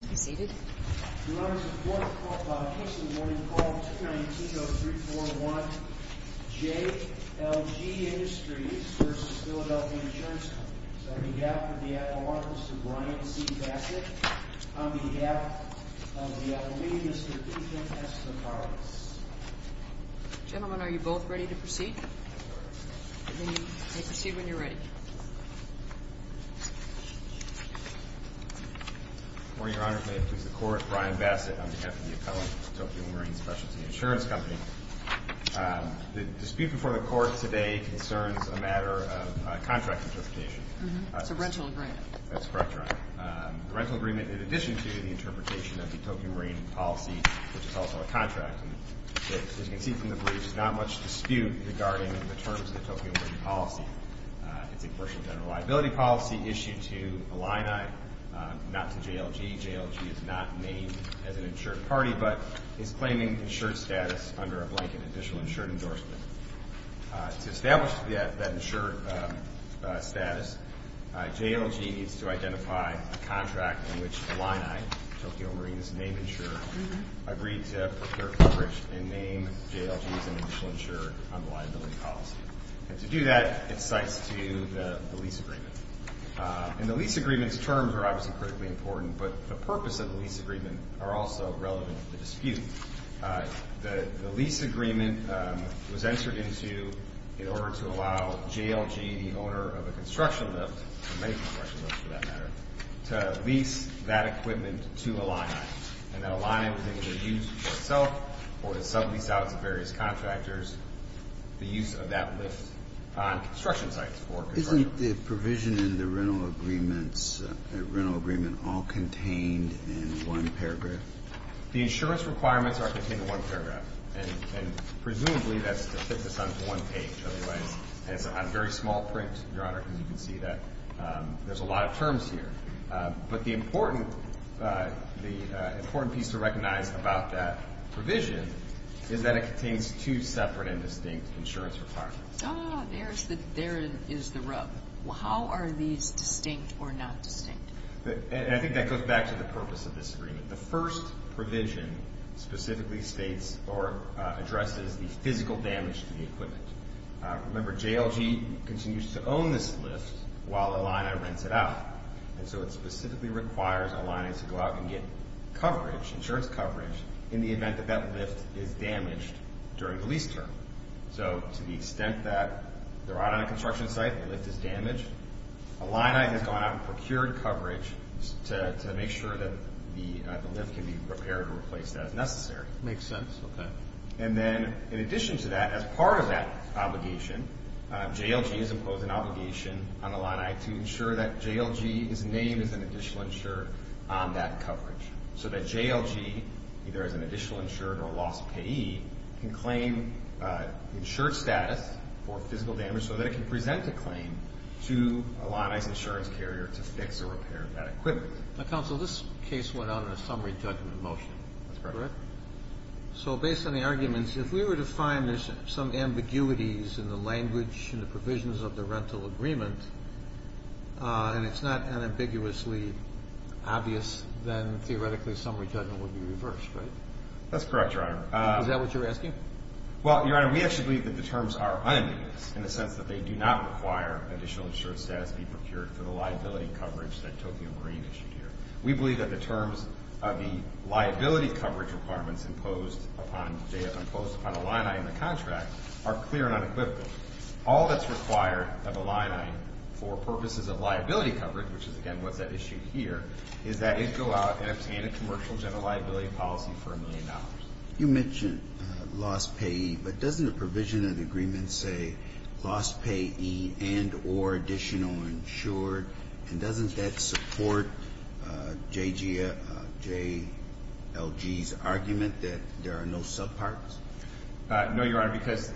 On behalf of the Apollonians, Mr. Deacon S. DeCarlis. Gentlemen, are you both ready to proceed? Proceed when you're ready. Your Honor, may it please the Court, Brian Bassett on behalf of the Apollonians, the Tokyo Marine Specialty Insurance Company. The dispute before the Court today concerns a matter of contract interpretation. It's a rental agreement. That's correct, Your Honor. A rental agreement in addition to the interpretation of the Tokyo Marine policy, which is also a contract. As you can see from the brief, there's not much dispute regarding the terms of the Tokyo Marine policy. It's a partial general liability policy issued to Illini, not to JLG. JLG is not named as an insured party but is claiming insured status under a blanket official insured endorsement. To establish that insured status, JLG needs to identify a contract in which Illini, Tokyo Marine's name insurer, agreed to procure coverage and name JLG as an official insurer on the liability policy. And to do that, it cites to the lease agreement. And the lease agreement's terms are obviously critically important, but the purpose of the lease agreement are also relevant to the dispute. The lease agreement was entered into in order to allow JLG, the owner of a construction lift, or many construction lifts for that matter, to lease that equipment to Illini. And that Illini was able to use for itself or to sublease out to various contractors the use of that lift on construction sites for construction. Isn't the provision in the rental agreement all contained in one paragraph? The insurance requirements are contained in one paragraph. And presumably that's to fit this onto one page. Otherwise, it's on very small print, Your Honor, because you can see that there's a lot of terms here. But the important piece to recognize about that provision is that it contains two separate and distinct insurance requirements. Oh, there is the rub. How are these distinct or not distinct? I think that goes back to the purpose of this agreement. The first provision specifically states or addresses the physical damage to the equipment. Remember, JLG continues to own this lift while Illini rents it out. And so it specifically requires Illini to go out and get coverage, insurance coverage, in the event that that lift is damaged during the lease term. So to the extent that they're out on a construction site and the lift is damaged, Illini has gone out and procured coverage to make sure that the lift can be repaired or replaced as necessary. Makes sense. Okay. And then in addition to that, as part of that obligation, JLG has imposed an obligation on Illini to ensure that JLG is named as an additional insured on that coverage, so that JLG, either as an additional insured or a lost payee, can claim insured status for physical damage so that it can present the claim to Illini's insurance carrier to fix or repair that equipment. Counsel, this case went out on a summary judgment motion. That's correct. So based on the arguments, if we were to find there's some ambiguities in the language and the provisions of the rental agreement, and it's not unambiguously obvious, then theoretically summary judgment would be reversed, right? That's correct, Your Honor. Is that what you're asking? Well, Your Honor, we actually believe that the terms are unambiguous, in the sense that they do not require additional insured status to be procured for the liability coverage that Tokyo Marine issued here. We believe that the terms of the liability coverage requirements imposed upon JLG, imposed upon Illini in the contract, are clear and unequivocal. All that's required of Illini for purposes of liability coverage, which is, again, what's at issue here, is that it go out and obtain a commercial general liability policy for $1 million. You mentioned lost payee, but doesn't the provision of the agreement say lost payee and or additional insured? And doesn't that support JLG's argument that there are no subparts? No, Your Honor, because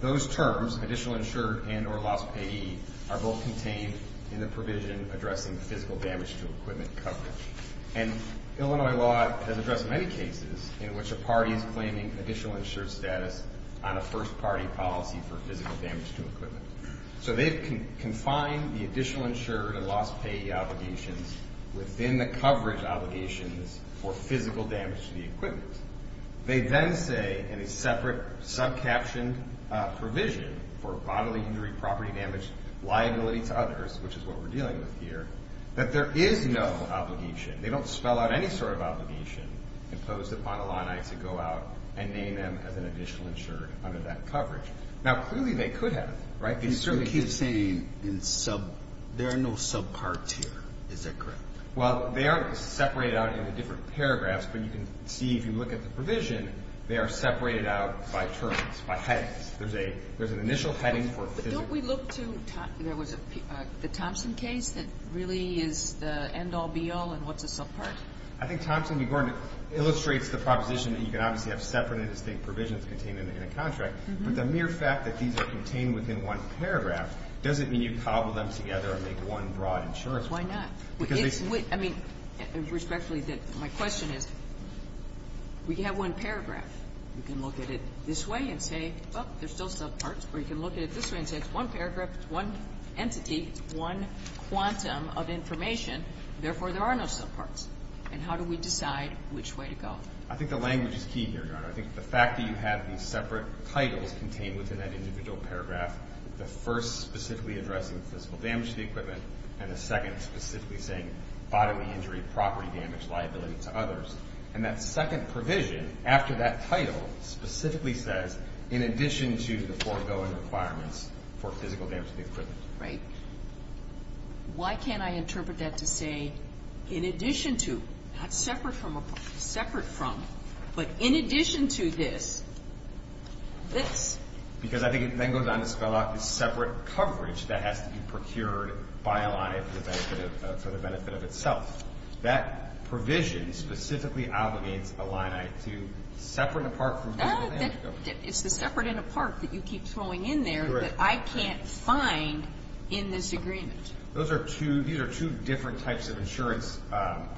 those terms, additional insured and or lost payee, are both contained in the provision addressing physical damage to equipment coverage. And Illinois law has addressed many cases in which a party is claiming additional insured status on a first party policy for physical damage to equipment. So they've confined the additional insured and lost payee obligations within the coverage obligations for physical damage to the equipment. They then say in a separate subcaptioned provision for bodily injury, property damage, liability to others, which is what we're dealing with here, that there is no obligation. They don't spell out any sort of obligation imposed upon Illini to go out and name them as an additional insured under that coverage. Now, clearly they could have, right? You keep saying there are no subparts here. Is that correct? Well, they are separated out into different paragraphs. But you can see if you look at the provision, they are separated out by terms, by headings. There's an initial heading for physical damage. But don't we look to the Thompson case that really is the end-all, be-all, and what's a subpart? I think Thompson, Your Honor, illustrates the proposition that you can obviously have separate and distinct provisions contained in a contract. But the mere fact that these are contained within one paragraph doesn't mean you cobble them together and make one broad insurance provision. Why not? Because they seem to be the same. I mean, respectfully, my question is, we have one paragraph. We can look at it this way and say, oh, there's still subparts. Or you can look at it this way and say it's one paragraph, it's one entity, it's one quantum of information. Therefore, there are no subparts. And how do we decide which way to go? I think the language is key here, Your Honor. I think the fact that you have these separate titles contained within that individual paragraph, the first specifically addressing physical damage to the equipment, and the second specifically saying bodily injury, property damage, liability to others. And that second provision, after that title, specifically says, in addition to the foregoing requirements for physical damage to the equipment. Right. Why can't I interpret that to say, in addition to, not separate from, separate from, but in addition to this, this. Because I think it then goes on to spell out the separate coverage that has to be procured by Illini for the benefit of itself. That provision specifically obligates Illini to separate and apart from physical damage. It's the separate and apart that you keep throwing in there that I can't find in this agreement. These are two different types of insurance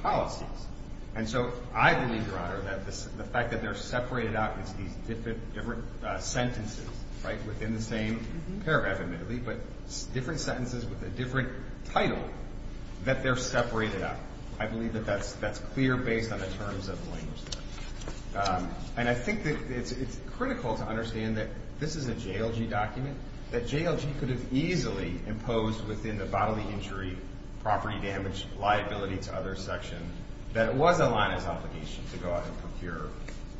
policies. And so I believe, Your Honor, that the fact that they're separated out into these different sentences, right, within the same paragraph, admittedly, but different sentences with a different title, that they're separated out. I believe that that's clear based on the terms of the language there. And I think that it's critical to understand that this is a JLG document, that JLG could have easily imposed within the bodily injury, property damage, liability to others section that it was Illini's obligation to go out and procure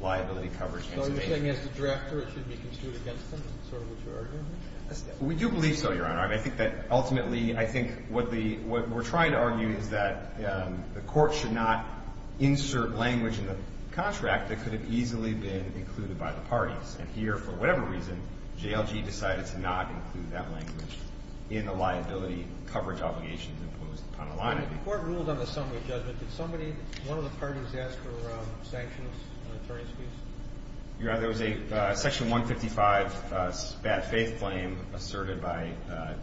liability coverage. So you're saying as the drafter it should be construed against them, sort of what you're arguing? We do believe so, Your Honor. I think that ultimately, I think what we're trying to argue is that the court should not insert language in the contract that could have easily been included by the parties. And here, for whatever reason, JLG decided to not include that language in the liability coverage obligation imposed upon Illini. The court ruled on the summary judgment. Did somebody, one of the parties, ask for sanctions on attorney's fees? Your Honor, there was a section 155 bad faith claim asserted by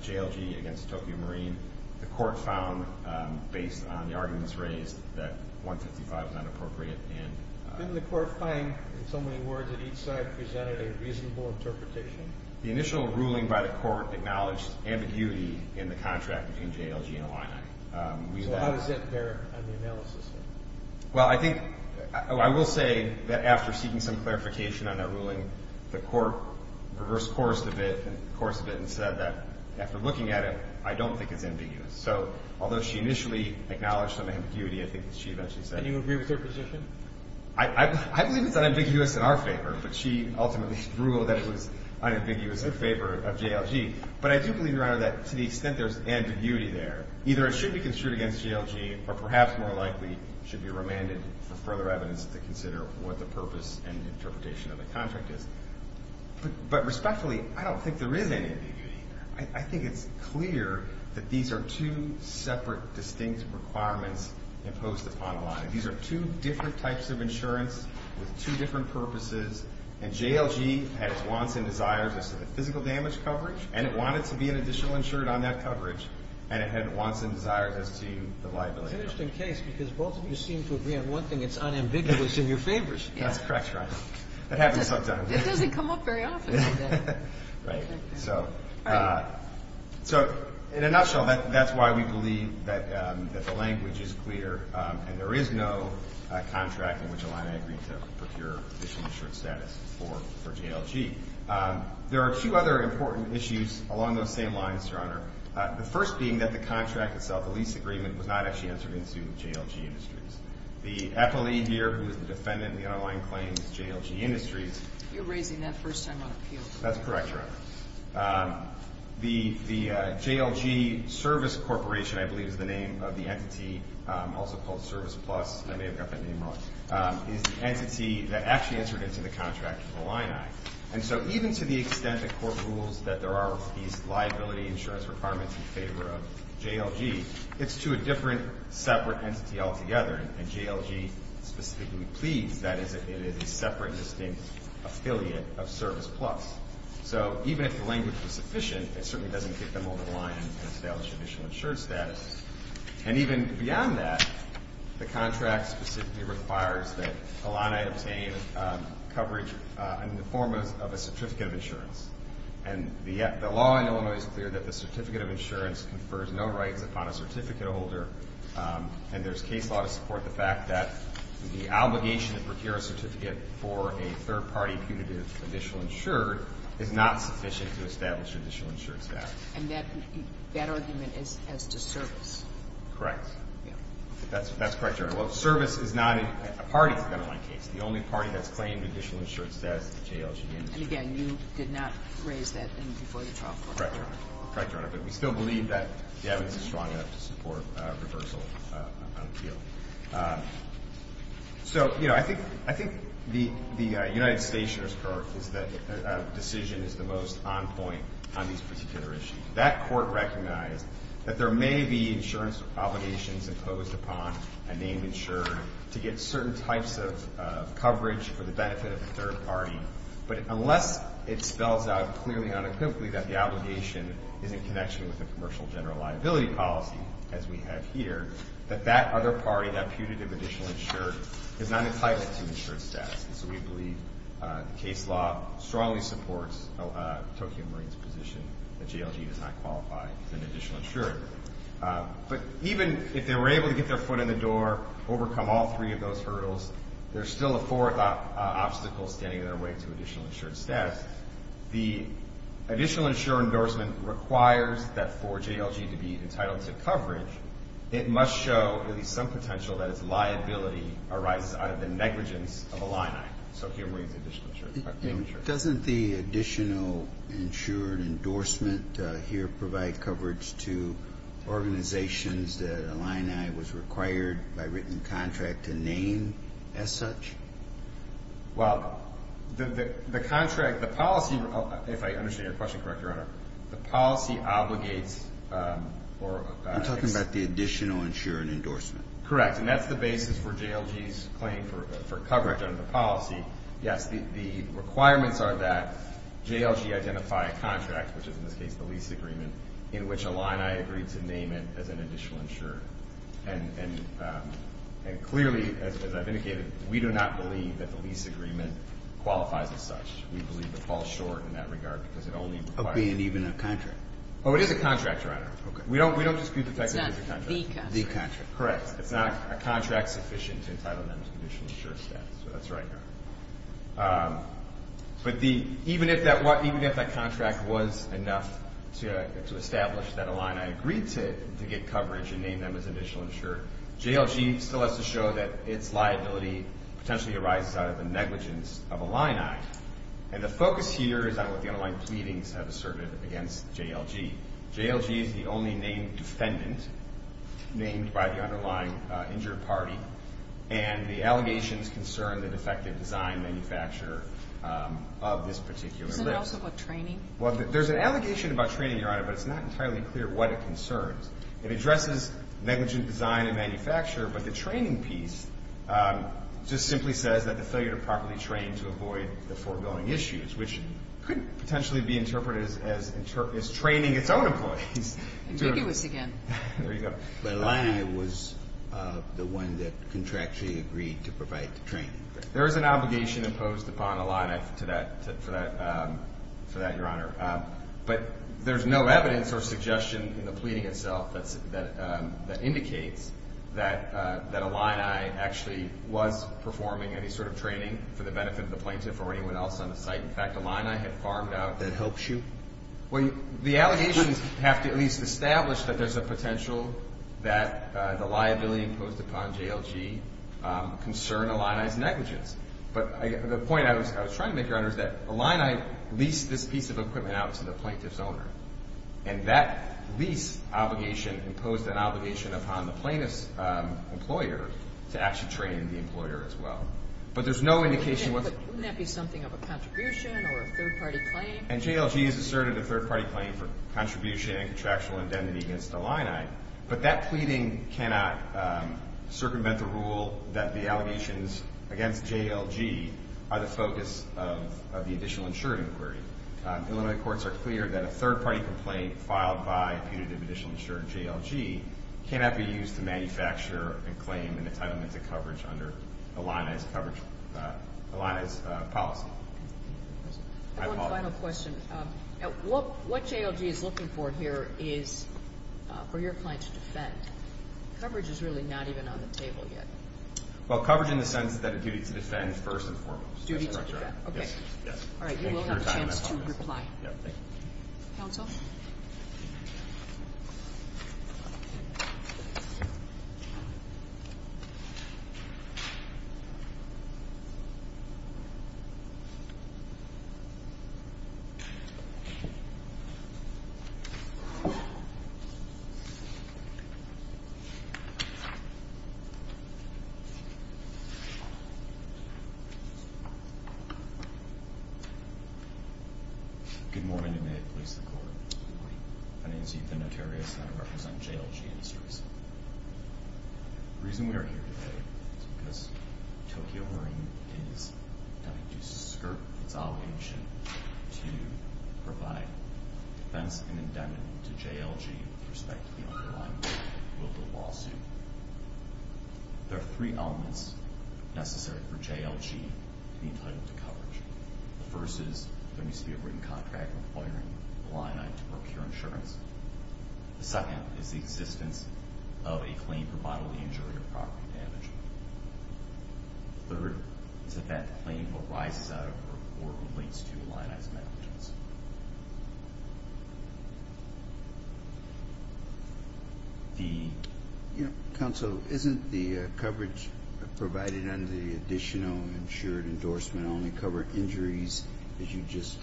JLG against Tokyo Marine. The court found, based on the arguments raised, that 155 is not appropriate. Didn't the court find, in so many words at each side, presented a reasonable interpretation? The initial ruling by the court acknowledged ambiguity in the contract between JLG and Illini. So how does that bear on the analysis? Well, I think, I will say that after seeking some clarification on that ruling, the court reversed course a bit and said that after looking at it, I don't think it's ambiguous. So although she initially acknowledged some ambiguity, I think she eventually said. Do you agree with her position? I believe it's unambiguous in our favor, but she ultimately ruled that it was unambiguous in favor of JLG. But I do believe, Your Honor, that to the extent there's ambiguity there, either it should be construed against JLG or perhaps more likely should be remanded for further evidence to consider what the purpose and interpretation of the contract is. But respectfully, I don't think there is any ambiguity. I think it's clear that these are two separate, distinct requirements imposed upon Illini. These are two different types of insurance with two different purposes, and JLG had its wants and desires as to the physical damage coverage, and it wanted to be an additional insured on that coverage, and it had wants and desires as to the liability. It's an interesting case because both of you seem to agree on one thing. It's unambiguous in your favors. That's correct, Your Honor. It happens sometimes. It doesn't come up very often. Right. So in a nutshell, that's why we believe that the language is clear and there is no contract in which Illini agreed to procure additional insured status for JLG. There are two other important issues along those same lines, Your Honor, the first being that the contract itself, the lease agreement, was not actually entered into JLG Industries. The appellee here who is the defendant in the underlying claim is JLG Industries. You're raising that first time on appeal. That's correct, Your Honor. The JLG Service Corporation, I believe, is the name of the entity, also called Service Plus. I may have got that name wrong. It's the entity that actually entered into the contract for Illini. And so even to the extent that court rules that there are these liability insurance requirements in favor of JLG, it's to a different separate entity altogether, and JLG specifically pleads that it is a separate, distinct affiliate of Service Plus. So even if the language was sufficient, it certainly doesn't kick them over the line and establish additional insured status. And even beyond that, the contract specifically requires that Illini obtain coverage in the form of a certificate of insurance. And the law in Illinois is clear that the certificate of insurance confers no rights upon a certificate holder, and there's case law to support the fact that the obligation to procure a certificate for a third-party punitive additional insured is not sufficient to establish additional insured status. And that argument is as to Service. Correct. That's correct, Your Honor. Well, Service is not a party to the underlying case. The only party that's claimed additional insured status is JLG Industries. And again, you did not raise that before the trial court. Correct, Your Honor. Correct, Your Honor. But we still believe that the evidence is strong enough to support reversal on appeal. So, you know, I think the United States insurer's court is that a decision is the most on point on these particular issues. That court recognized that there may be insurance obligations imposed upon a named insurer to get certain types of coverage for the benefit of a third party, but unless it spells out clearly and unequivocally that the obligation is in connection with the commercial general liability policy, as we have here, that that other party, that punitive additional insured, is not entitled to insured status. And so we believe the case law strongly supports Tokyo Marine's position that JLG does not qualify as an additional insured. But even if they were able to get their foot in the door, overcome all three of those hurdles, there's still a fourth obstacle standing in their way to additional insured status. The additional insured endorsement requires that for JLG to be entitled to coverage, it must show at least some potential that its liability arises out of the negligence of Illini, Tokyo Marine's additional insured. Doesn't the additional insured endorsement here provide coverage to organizations that Illini was required by written contract to name as such? Well, the contract, the policy, if I understand your question correctly, Your Honor, the policy obligates or I'm talking about the additional insured endorsement. Correct. And that's the basis for JLG's claim for coverage under the policy. Yes, the requirements are that JLG identify a contract, which is in this case the lease agreement, in which Illini agreed to name it as an additional insured. And clearly, as I've indicated, we do not believe that the lease agreement qualifies as such. We believe it falls short in that regard because it only requires a lease agreement. Obeying even a contract. Oh, it is a contract, Your Honor. Okay. We don't dispute the fact that it's a contract. It's not the contract. Correct. It's not a contract sufficient to entitle them to additional insured status. That's right, Your Honor. But even if that contract was enough to establish that Illini agreed to get coverage and name them as additional insured, JLG still has to show that its liability potentially arises out of the negligence of Illini. And the focus here is on what the underlying pleadings have asserted against JLG. JLG is the only named defendant named by the underlying injured party. And the allegations concern the defective design manufacturer of this particular lease. Isn't it also about training? Well, there's an allegation about training, Your Honor, but it's not entirely clear what it concerns. It addresses negligent design and manufacturer, but the training piece just simply says that the failure to properly train to avoid the foregoing issues, which could potentially be interpreted as training its own employees. Ambiguous again. There you go. But Illini was the one that contractually agreed to provide the training. There is an obligation imposed upon Illini for that, Your Honor. But there's no evidence or suggestion in the pleading itself that indicates that Illini actually was performing any sort of training for the benefit of the plaintiff or anyone else on the site. In fact, Illini had farmed out. That helps you? Well, the allegations have to at least establish that there's a potential that the liability imposed upon JLG concerned Illini's negligence. But the point I was trying to make, Your Honor, is that Illini leased this piece of equipment out to the plaintiff's owner, and that lease obligation imposed an obligation upon the plaintiff's employer to actually train the employer as well. But there's no indication what the – But wouldn't that be something of a contribution or a third-party claim? And JLG has asserted a third-party claim for contribution and contractual indemnity against Illini. But that pleading cannot circumvent the rule that the allegations against JLG are the focus of the additional insurance inquiry. Illinois courts are clear that a third-party complaint filed by punitive additional insurance, JLG, cannot be used to manufacture a claim in entitlement to coverage under Illini's policy. I have one final question. What JLG is looking for here is for your client to defend. Coverage is really not even on the table yet. Well, coverage in the sense that it's a duty to defend first and foremost. Duty to defend. Yes. All right, you will have a chance to reply. Thank you. Counsel? Thank you. Good morning, and may it please the Court. Good morning. My name is Ethan Notarius, and I represent JLG in this case. The reason we are here today is because Tokyo Marine is going to skirt its obligation to provide defense and indemnity to JLG with respect to the underlying will of the lawsuit. There are three elements necessary for JLG to be entitled to coverage. The first is there needs to be a written contract requiring Illini to procure insurance. The second is the existence of a claim for bodily injury or property damage. The third is that that claim arises out of or relates to Illini's negligence. Counsel, isn't the coverage provided under the additional insured endorsement only cover injuries, as you just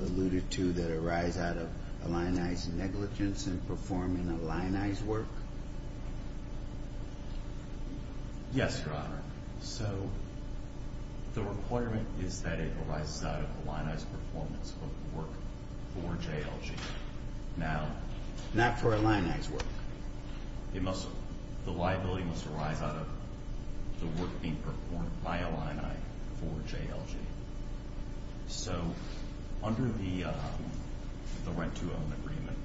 alluded to, that arise out of Illini's negligence in performing Illini's work? Yes, Your Honor. So the requirement is that it arises out of Illini's performance of work for JLG. Not for Illini's work. The liability must arise out of the work being performed by Illini for JLG. So, under the rent-to-own agreement,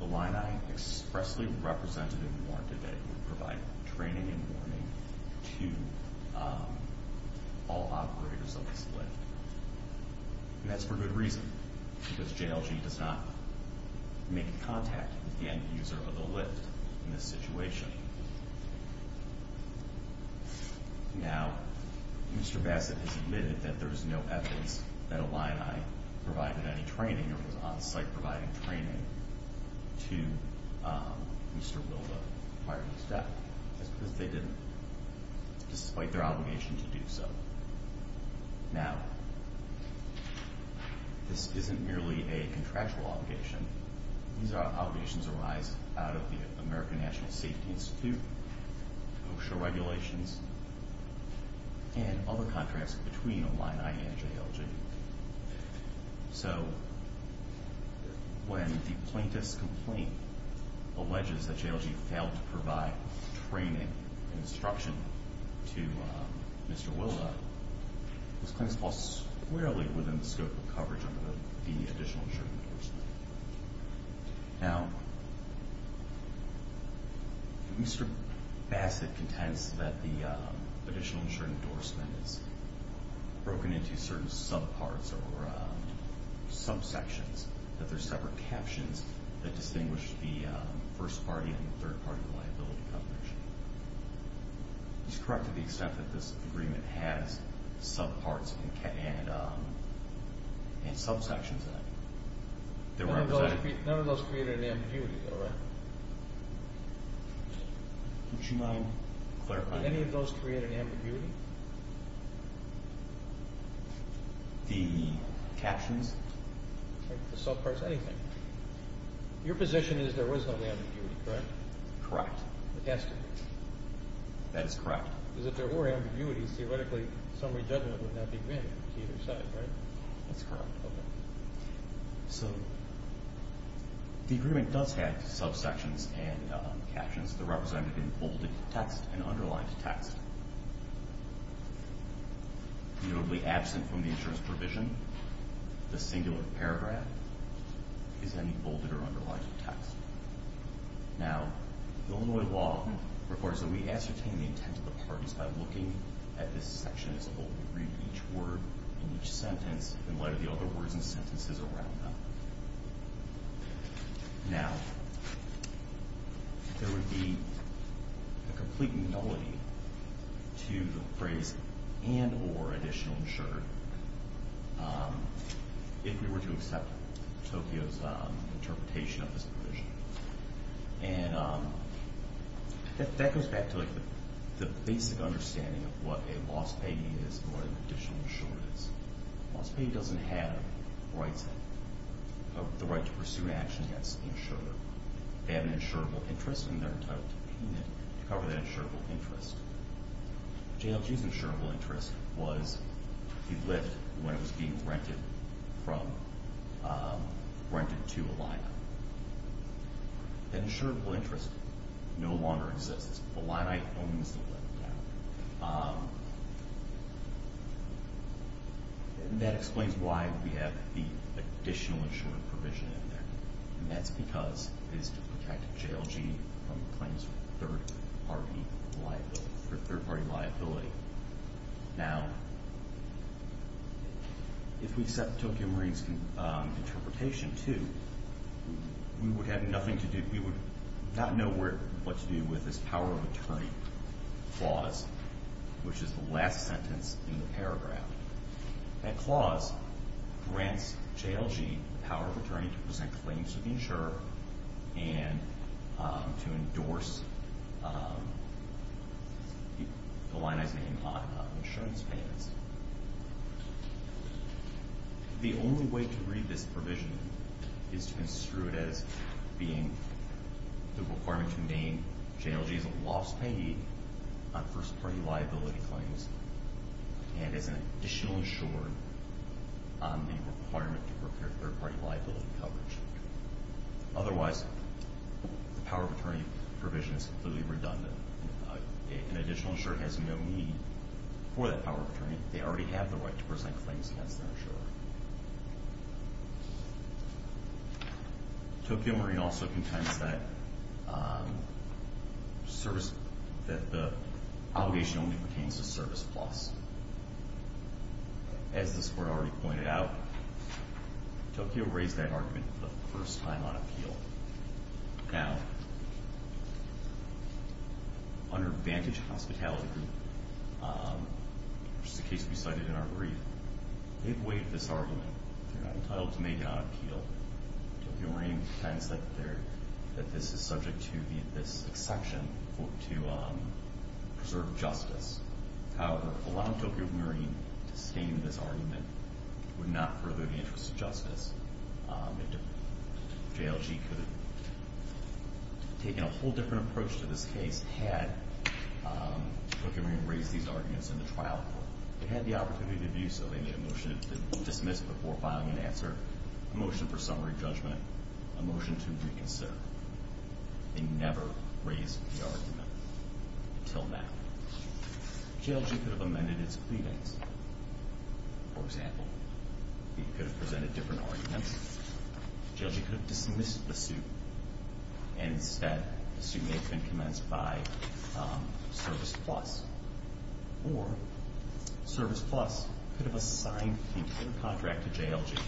Illini expressly represented and warranted that it would provide training and warning to all operators of this lift. And that's for good reason, because JLG does not make contact with the end user of the lift in this situation. Now, Mr. Bassett has admitted that there is no evidence that Illini provided any training, or was on-site providing training, to Mr. Wilda Harvey's death. That's because they didn't, despite their obligation to do so. Now, this isn't merely a contractual obligation. These obligations arise out of the American National Safety Institute, OSHA regulations, and other contracts between Illini and JLG. So, when the plaintiff's complaint alleges that JLG failed to provide training and instruction to Mr. Wilda, this claim is filed squarely within the scope of coverage under the additional insurance endorsement. Now, Mr. Bassett contends that the additional insurance endorsement is broken into certain subparts or subsections. That there are separate captions that distinguish the first party and the third party liability coverage. He's correct to the extent that this agreement has subparts and subsections that represent... None of those create an ambiguity, though, right? Would you mind clarifying that? Did any of those create an ambiguity? The captions? The subparts, anything. Your position is there was no ambiguity, correct? Correct. That is correct. That's correct. So, the agreement does have subsections and captions that are represented in bolded text and underlined text. Notably absent from the insurance provision, the singular paragraph is any bolded or underlined text. Now, Illinois law requires that we ascertain the intent of the parties by looking at this section as a whole. We read each word in each sentence in light of the other words and sentences around them. Now, there would be a complete nullity to the phrase and or additional insurer if we were to accept Tokyo's interpretation of this provision. And that goes back to the basic understanding of what a lost payee is and what an additional insurer is. A lost payee doesn't have the right to pursue an action against an insurer. They have an insurable interest, and they're entitled to payment to cover that insurable interest. JLG's insurable interest was the lift when it was being rented to Illini. That insurable interest no longer exists. Illini owns the lift now. That explains why we have the additional insurer provision in there. And that's because it is to protect JLG from claims of third-party liability. Now, if we accept Tokyo Marine's interpretation, too, we would have nothing to do, we would not know what to do with this power of attorney clause, which is the last sentence in the paragraph. That clause grants JLG the power of attorney to present claims to the insurer and to endorse Illini's name on insurance payments. The only way to read this provision is to construe it as being the requirement to name JLG as a lost payee on first-party liability claims and as an additional insurer on the requirement to prepare third-party liability coverage. Otherwise, the power of attorney provision is completely redundant. An additional insurer has no need for that power of attorney. They already have the right to present claims against their insurer. Tokyo Marine also contends that the obligation only pertains to Service Plus. As this Court already pointed out, Tokyo raised that argument for the first time on appeal. Now, under Vantage Hospitality Group, which is a case we cited in our brief, they've waived this argument. They're entitled to make it on appeal. Tokyo Marine contends that this is subject to this exception to preserve justice. However, allowing Tokyo Marine to stay in this argument would not further the interest of justice. JLG could have taken a whole different approach to this case had Tokyo Marine raised these arguments in the trial court. They had the opportunity to do so. They made a motion to dismiss before filing an answer, a motion for summary judgment, a motion to reconsider. They never raised the argument until now. JLG could have amended its pleadings. For example, it could have presented different arguments. JLG could have dismissed the suit, and instead the suit may have been commenced by Service Plus. Or Service Plus could have assigned the entire contract to JLG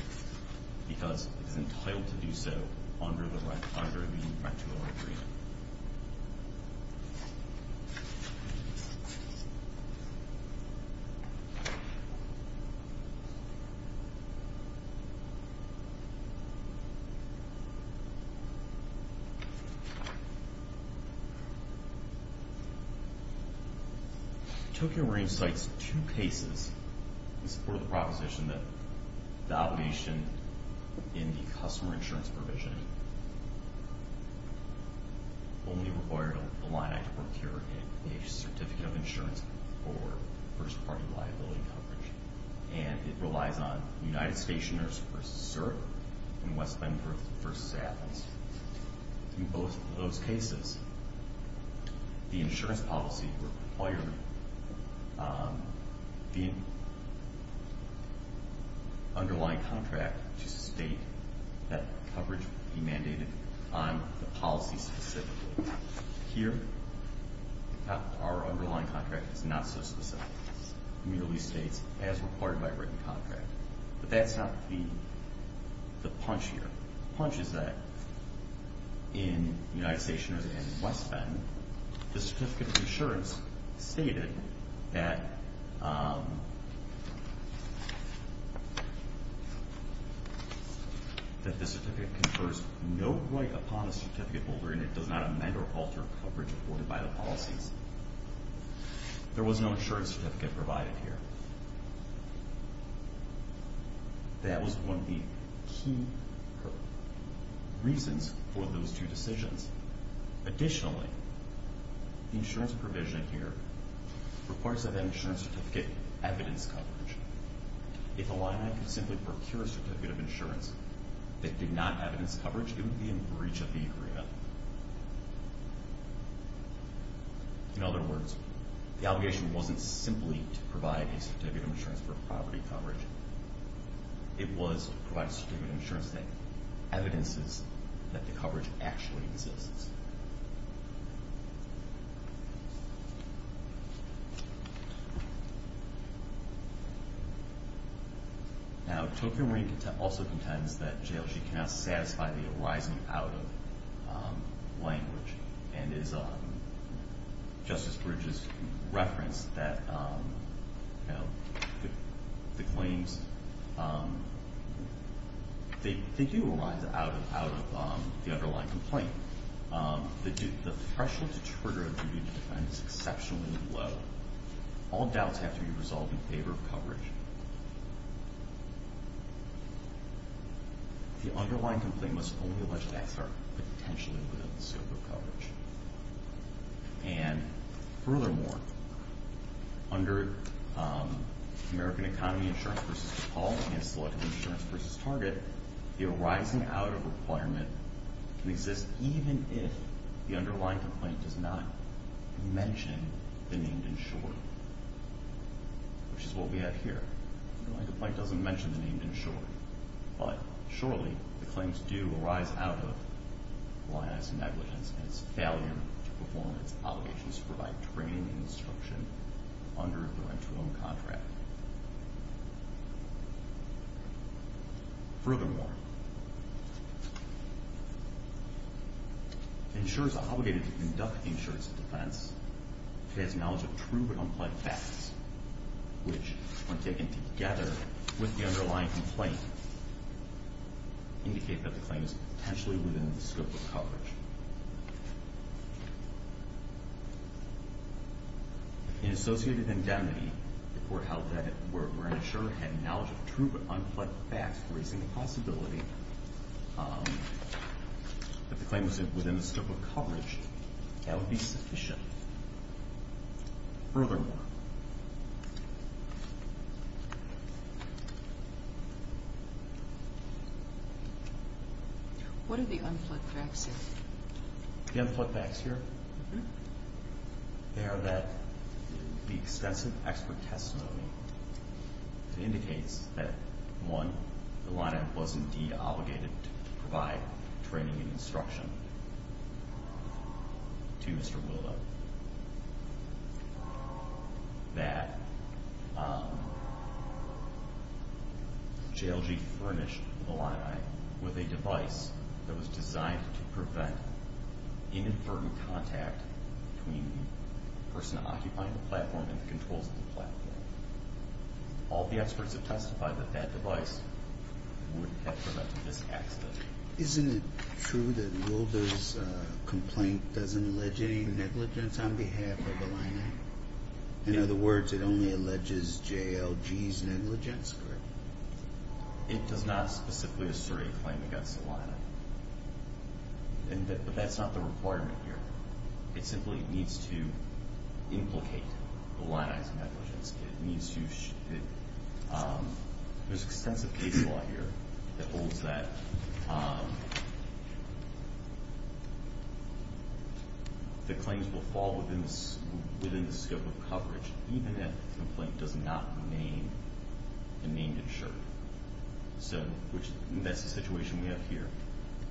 because it is entitled to do so under the RetroAgreement. Tokyo Marine cites two cases in support of the proposition that the obligation in the customer insurance provision only required Illini to procure a certificate of insurance for first-party liability coverage. And it relies on United Stationers v. CERB and West Benforth v. Apples. In both of those cases, the insurance policy required the underlying contract to state that coverage would be mandated on the policy specifically. Here, our underlying contract is not so specific. It merely states, as required by written contract. But that's not the punch here. The punch is that in United Stationers and West Benforth, the certificate of insurance stated that the certificate confers no right upon a certificate holder and it does not amend or alter coverage afforded by the policies. There was no insurance certificate provided here. That was one of the key reasons for those two decisions. Additionally, the insurance provision here requires that that insurance certificate evidence coverage. If Illini could simply procure a certificate of insurance that did not evidence coverage, it would be in breach of the agreement. In other words, the obligation wasn't simply to provide a certificate of insurance for property coverage. It was to provide a certificate of insurance that evidences that the coverage actually exists. Now, Tocqueville-Marie also contends that JLG cannot satisfy the arising out of language. And as Justice Bridges referenced, the claims, they do arise out of the underlying complaint. The threshold to trigger a duty to defend is exceptionally low. All doubts have to be resolved in favor of coverage. The underlying complaint must only allege that acts are potentially within the scope of coverage. And furthermore, under American Economy Insurance v. DePaul and Selective Insurance v. Target, the arising out of requirement can exist even if the underlying complaint does not mention the named insured, which is what we have here. The underlying complaint doesn't mention the named insured, but surely the claims do arise out of Illini's negligence and its failure to perform its obligations to provide training and instruction under the rent-to-own contract. Furthermore, insurers are obligated to conduct insurance defense. It has knowledge of true but unplayed facts, which, when taken together with the underlying complaint, indicate that the claim is potentially within the scope of coverage. In associated indemnity, the court held that where an insurer had knowledge of true but unplayed facts, raising the possibility that the claim was within the scope of coverage, that would be sufficient. Furthermore... What are the unplugged facts here? The unplugged facts here? Mm-hmm. They are that the extensive expert testimony indicates that, one, Illini was indeed obligated to provide training and instruction to Mr. Willow, that JLG furnished Illini with a device that was designed to prevent inadvertent contact between the person occupying the platform and the controls of the platform. All the experts have testified that that device would have prevented this accident. Isn't it true that Wilder's complaint doesn't allege any negligence on behalf of Illini? In other words, it only alleges JLG's negligence, correct? It does not specifically assert a claim against Illini, but that's not the requirement here. It simply needs to implicate Illini's negligence. There's extensive case law here that holds that the claims will fall within the scope of coverage, even if the complaint does not remain a named insurer. So that's the situation we have here.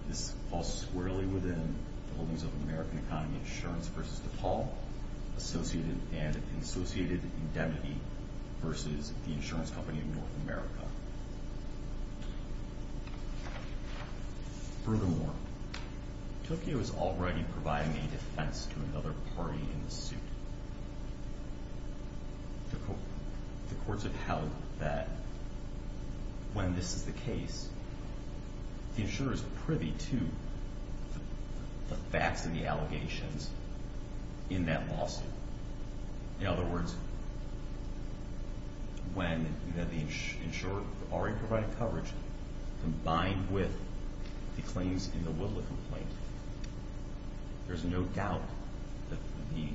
This falls squarely within the holdings of American Economy Insurance v. DePaul and associated indemnity v. the insurance company of North America. Furthermore, Tokyo is already providing a defense to another party in the suit. The courts have held that when this is the case, the insurer is privy to the facts of the allegations in that lawsuit. In other words, when the insurer already provided coverage, combined with the claims in the Wilder complaint, there's no doubt that the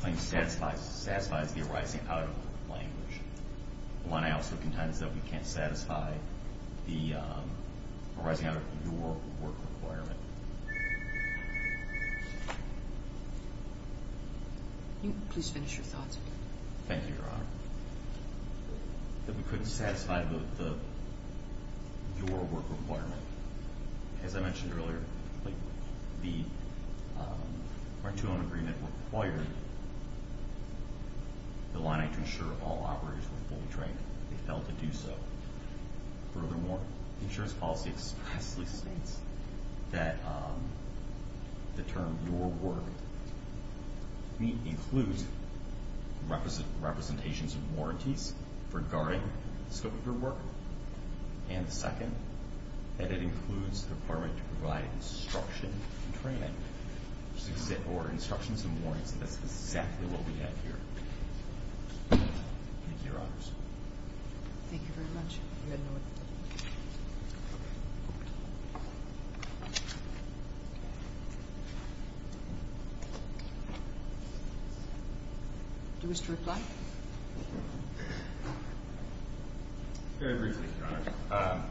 claim satisfies the arising-out-of-work language. Illini also contends that we can't satisfy the arising-out-of-your-work requirement. Please finish your thoughts. Thank you, Your Honor. That we couldn't satisfy the your-work requirement. As I mentioned earlier, the March 2 own agreement required Illini to ensure all operators were fully trained. They failed to do so. Furthermore, the insurance policy expressly states that the term your-work includes representations of warranties regarding the scope of your work. And second, that it includes the requirement to provide instruction and training, or instructions and warrants. And that's exactly what we have here. Thank you, Your Honors. Thank you very much. Do you wish to reply? Very briefly, Your Honor.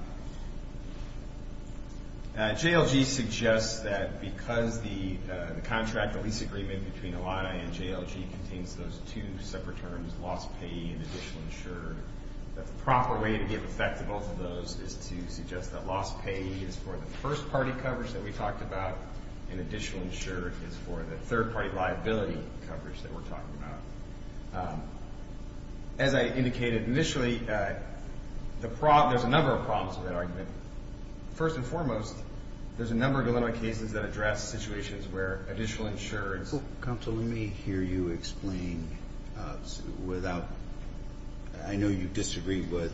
JLG suggests that because the contract, the lease agreement between Illini and JLG, contains those two separate terms, loss payee and additional insurer, that the proper way to give effect to both of those is to suggest that loss payee is for the first-party coverage that we talked about, and additional insurer is for the third-party liability coverage that we're talking about. As I indicated initially, there's a number of problems with that argument. First and foremost, there's a number of Illinois cases that address situations where additional insurers Counsel, let me hear you explain without – I know you disagree with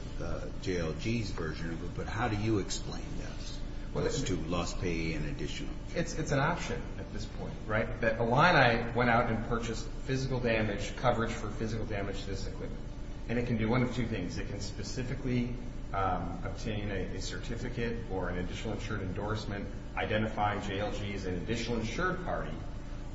JLG's version of it, but how do you explain this, those two, loss payee and additional? It's an option at this point, right? That Illini went out and purchased physical damage coverage for physical damage to this equipment. And it can do one of two things. It can specifically obtain a certificate or an additional insured endorsement, identify JLG as an additional insured party,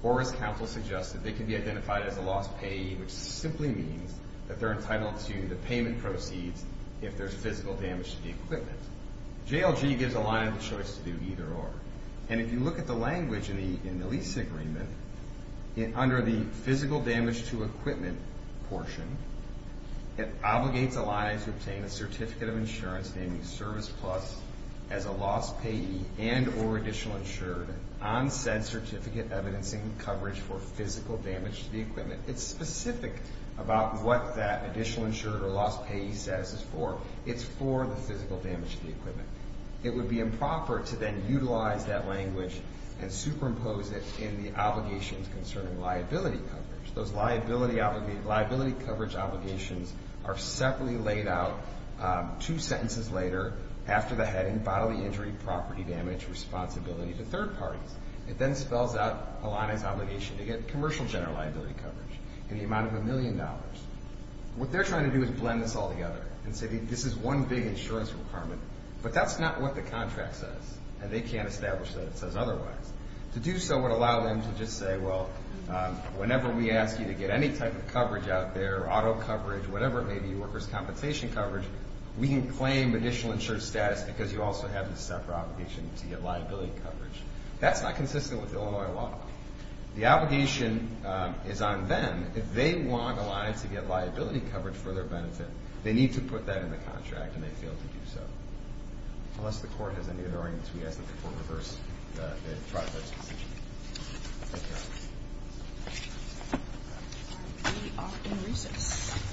or as Counsel suggested, they can be identified as a loss payee, which simply means that they're entitled to the payment proceeds if there's physical damage to the equipment. JLG gives Illini the choice to do either or. And if you look at the language in the lease agreement, under the physical damage to equipment portion, it obligates Illini to obtain a certificate of insurance naming service plus as a loss payee and or additional insured on said certificate evidencing coverage for physical damage to the equipment. It's specific about what that additional insured or loss payee status is for. It's for the physical damage to the equipment. It would be improper to then utilize that language and superimpose it in the obligations concerning liability coverage. Those liability coverage obligations are separately laid out two sentences later, after the heading bodily injury, property damage, responsibility to third parties. It then spells out Illini's obligation to get commercial general liability coverage in the amount of a million dollars. What they're trying to do is blend this all together and say this is one big insurance requirement, but that's not what the contract says, and they can't establish that it says otherwise. To do so would allow them to just say, well, whenever we ask you to get any type of coverage out there, auto coverage, whatever it may be, workers' compensation coverage, we can claim additional insured status because you also have this separate obligation to get liability coverage. That's not consistent with Illinois law. The obligation is on them. If they want a line to get liability coverage for their benefit, they need to put that in the contract, and they fail to do so. Unless the court has any other arguments, we ask that the court reverse the project's decision. Thank you. We are in recess.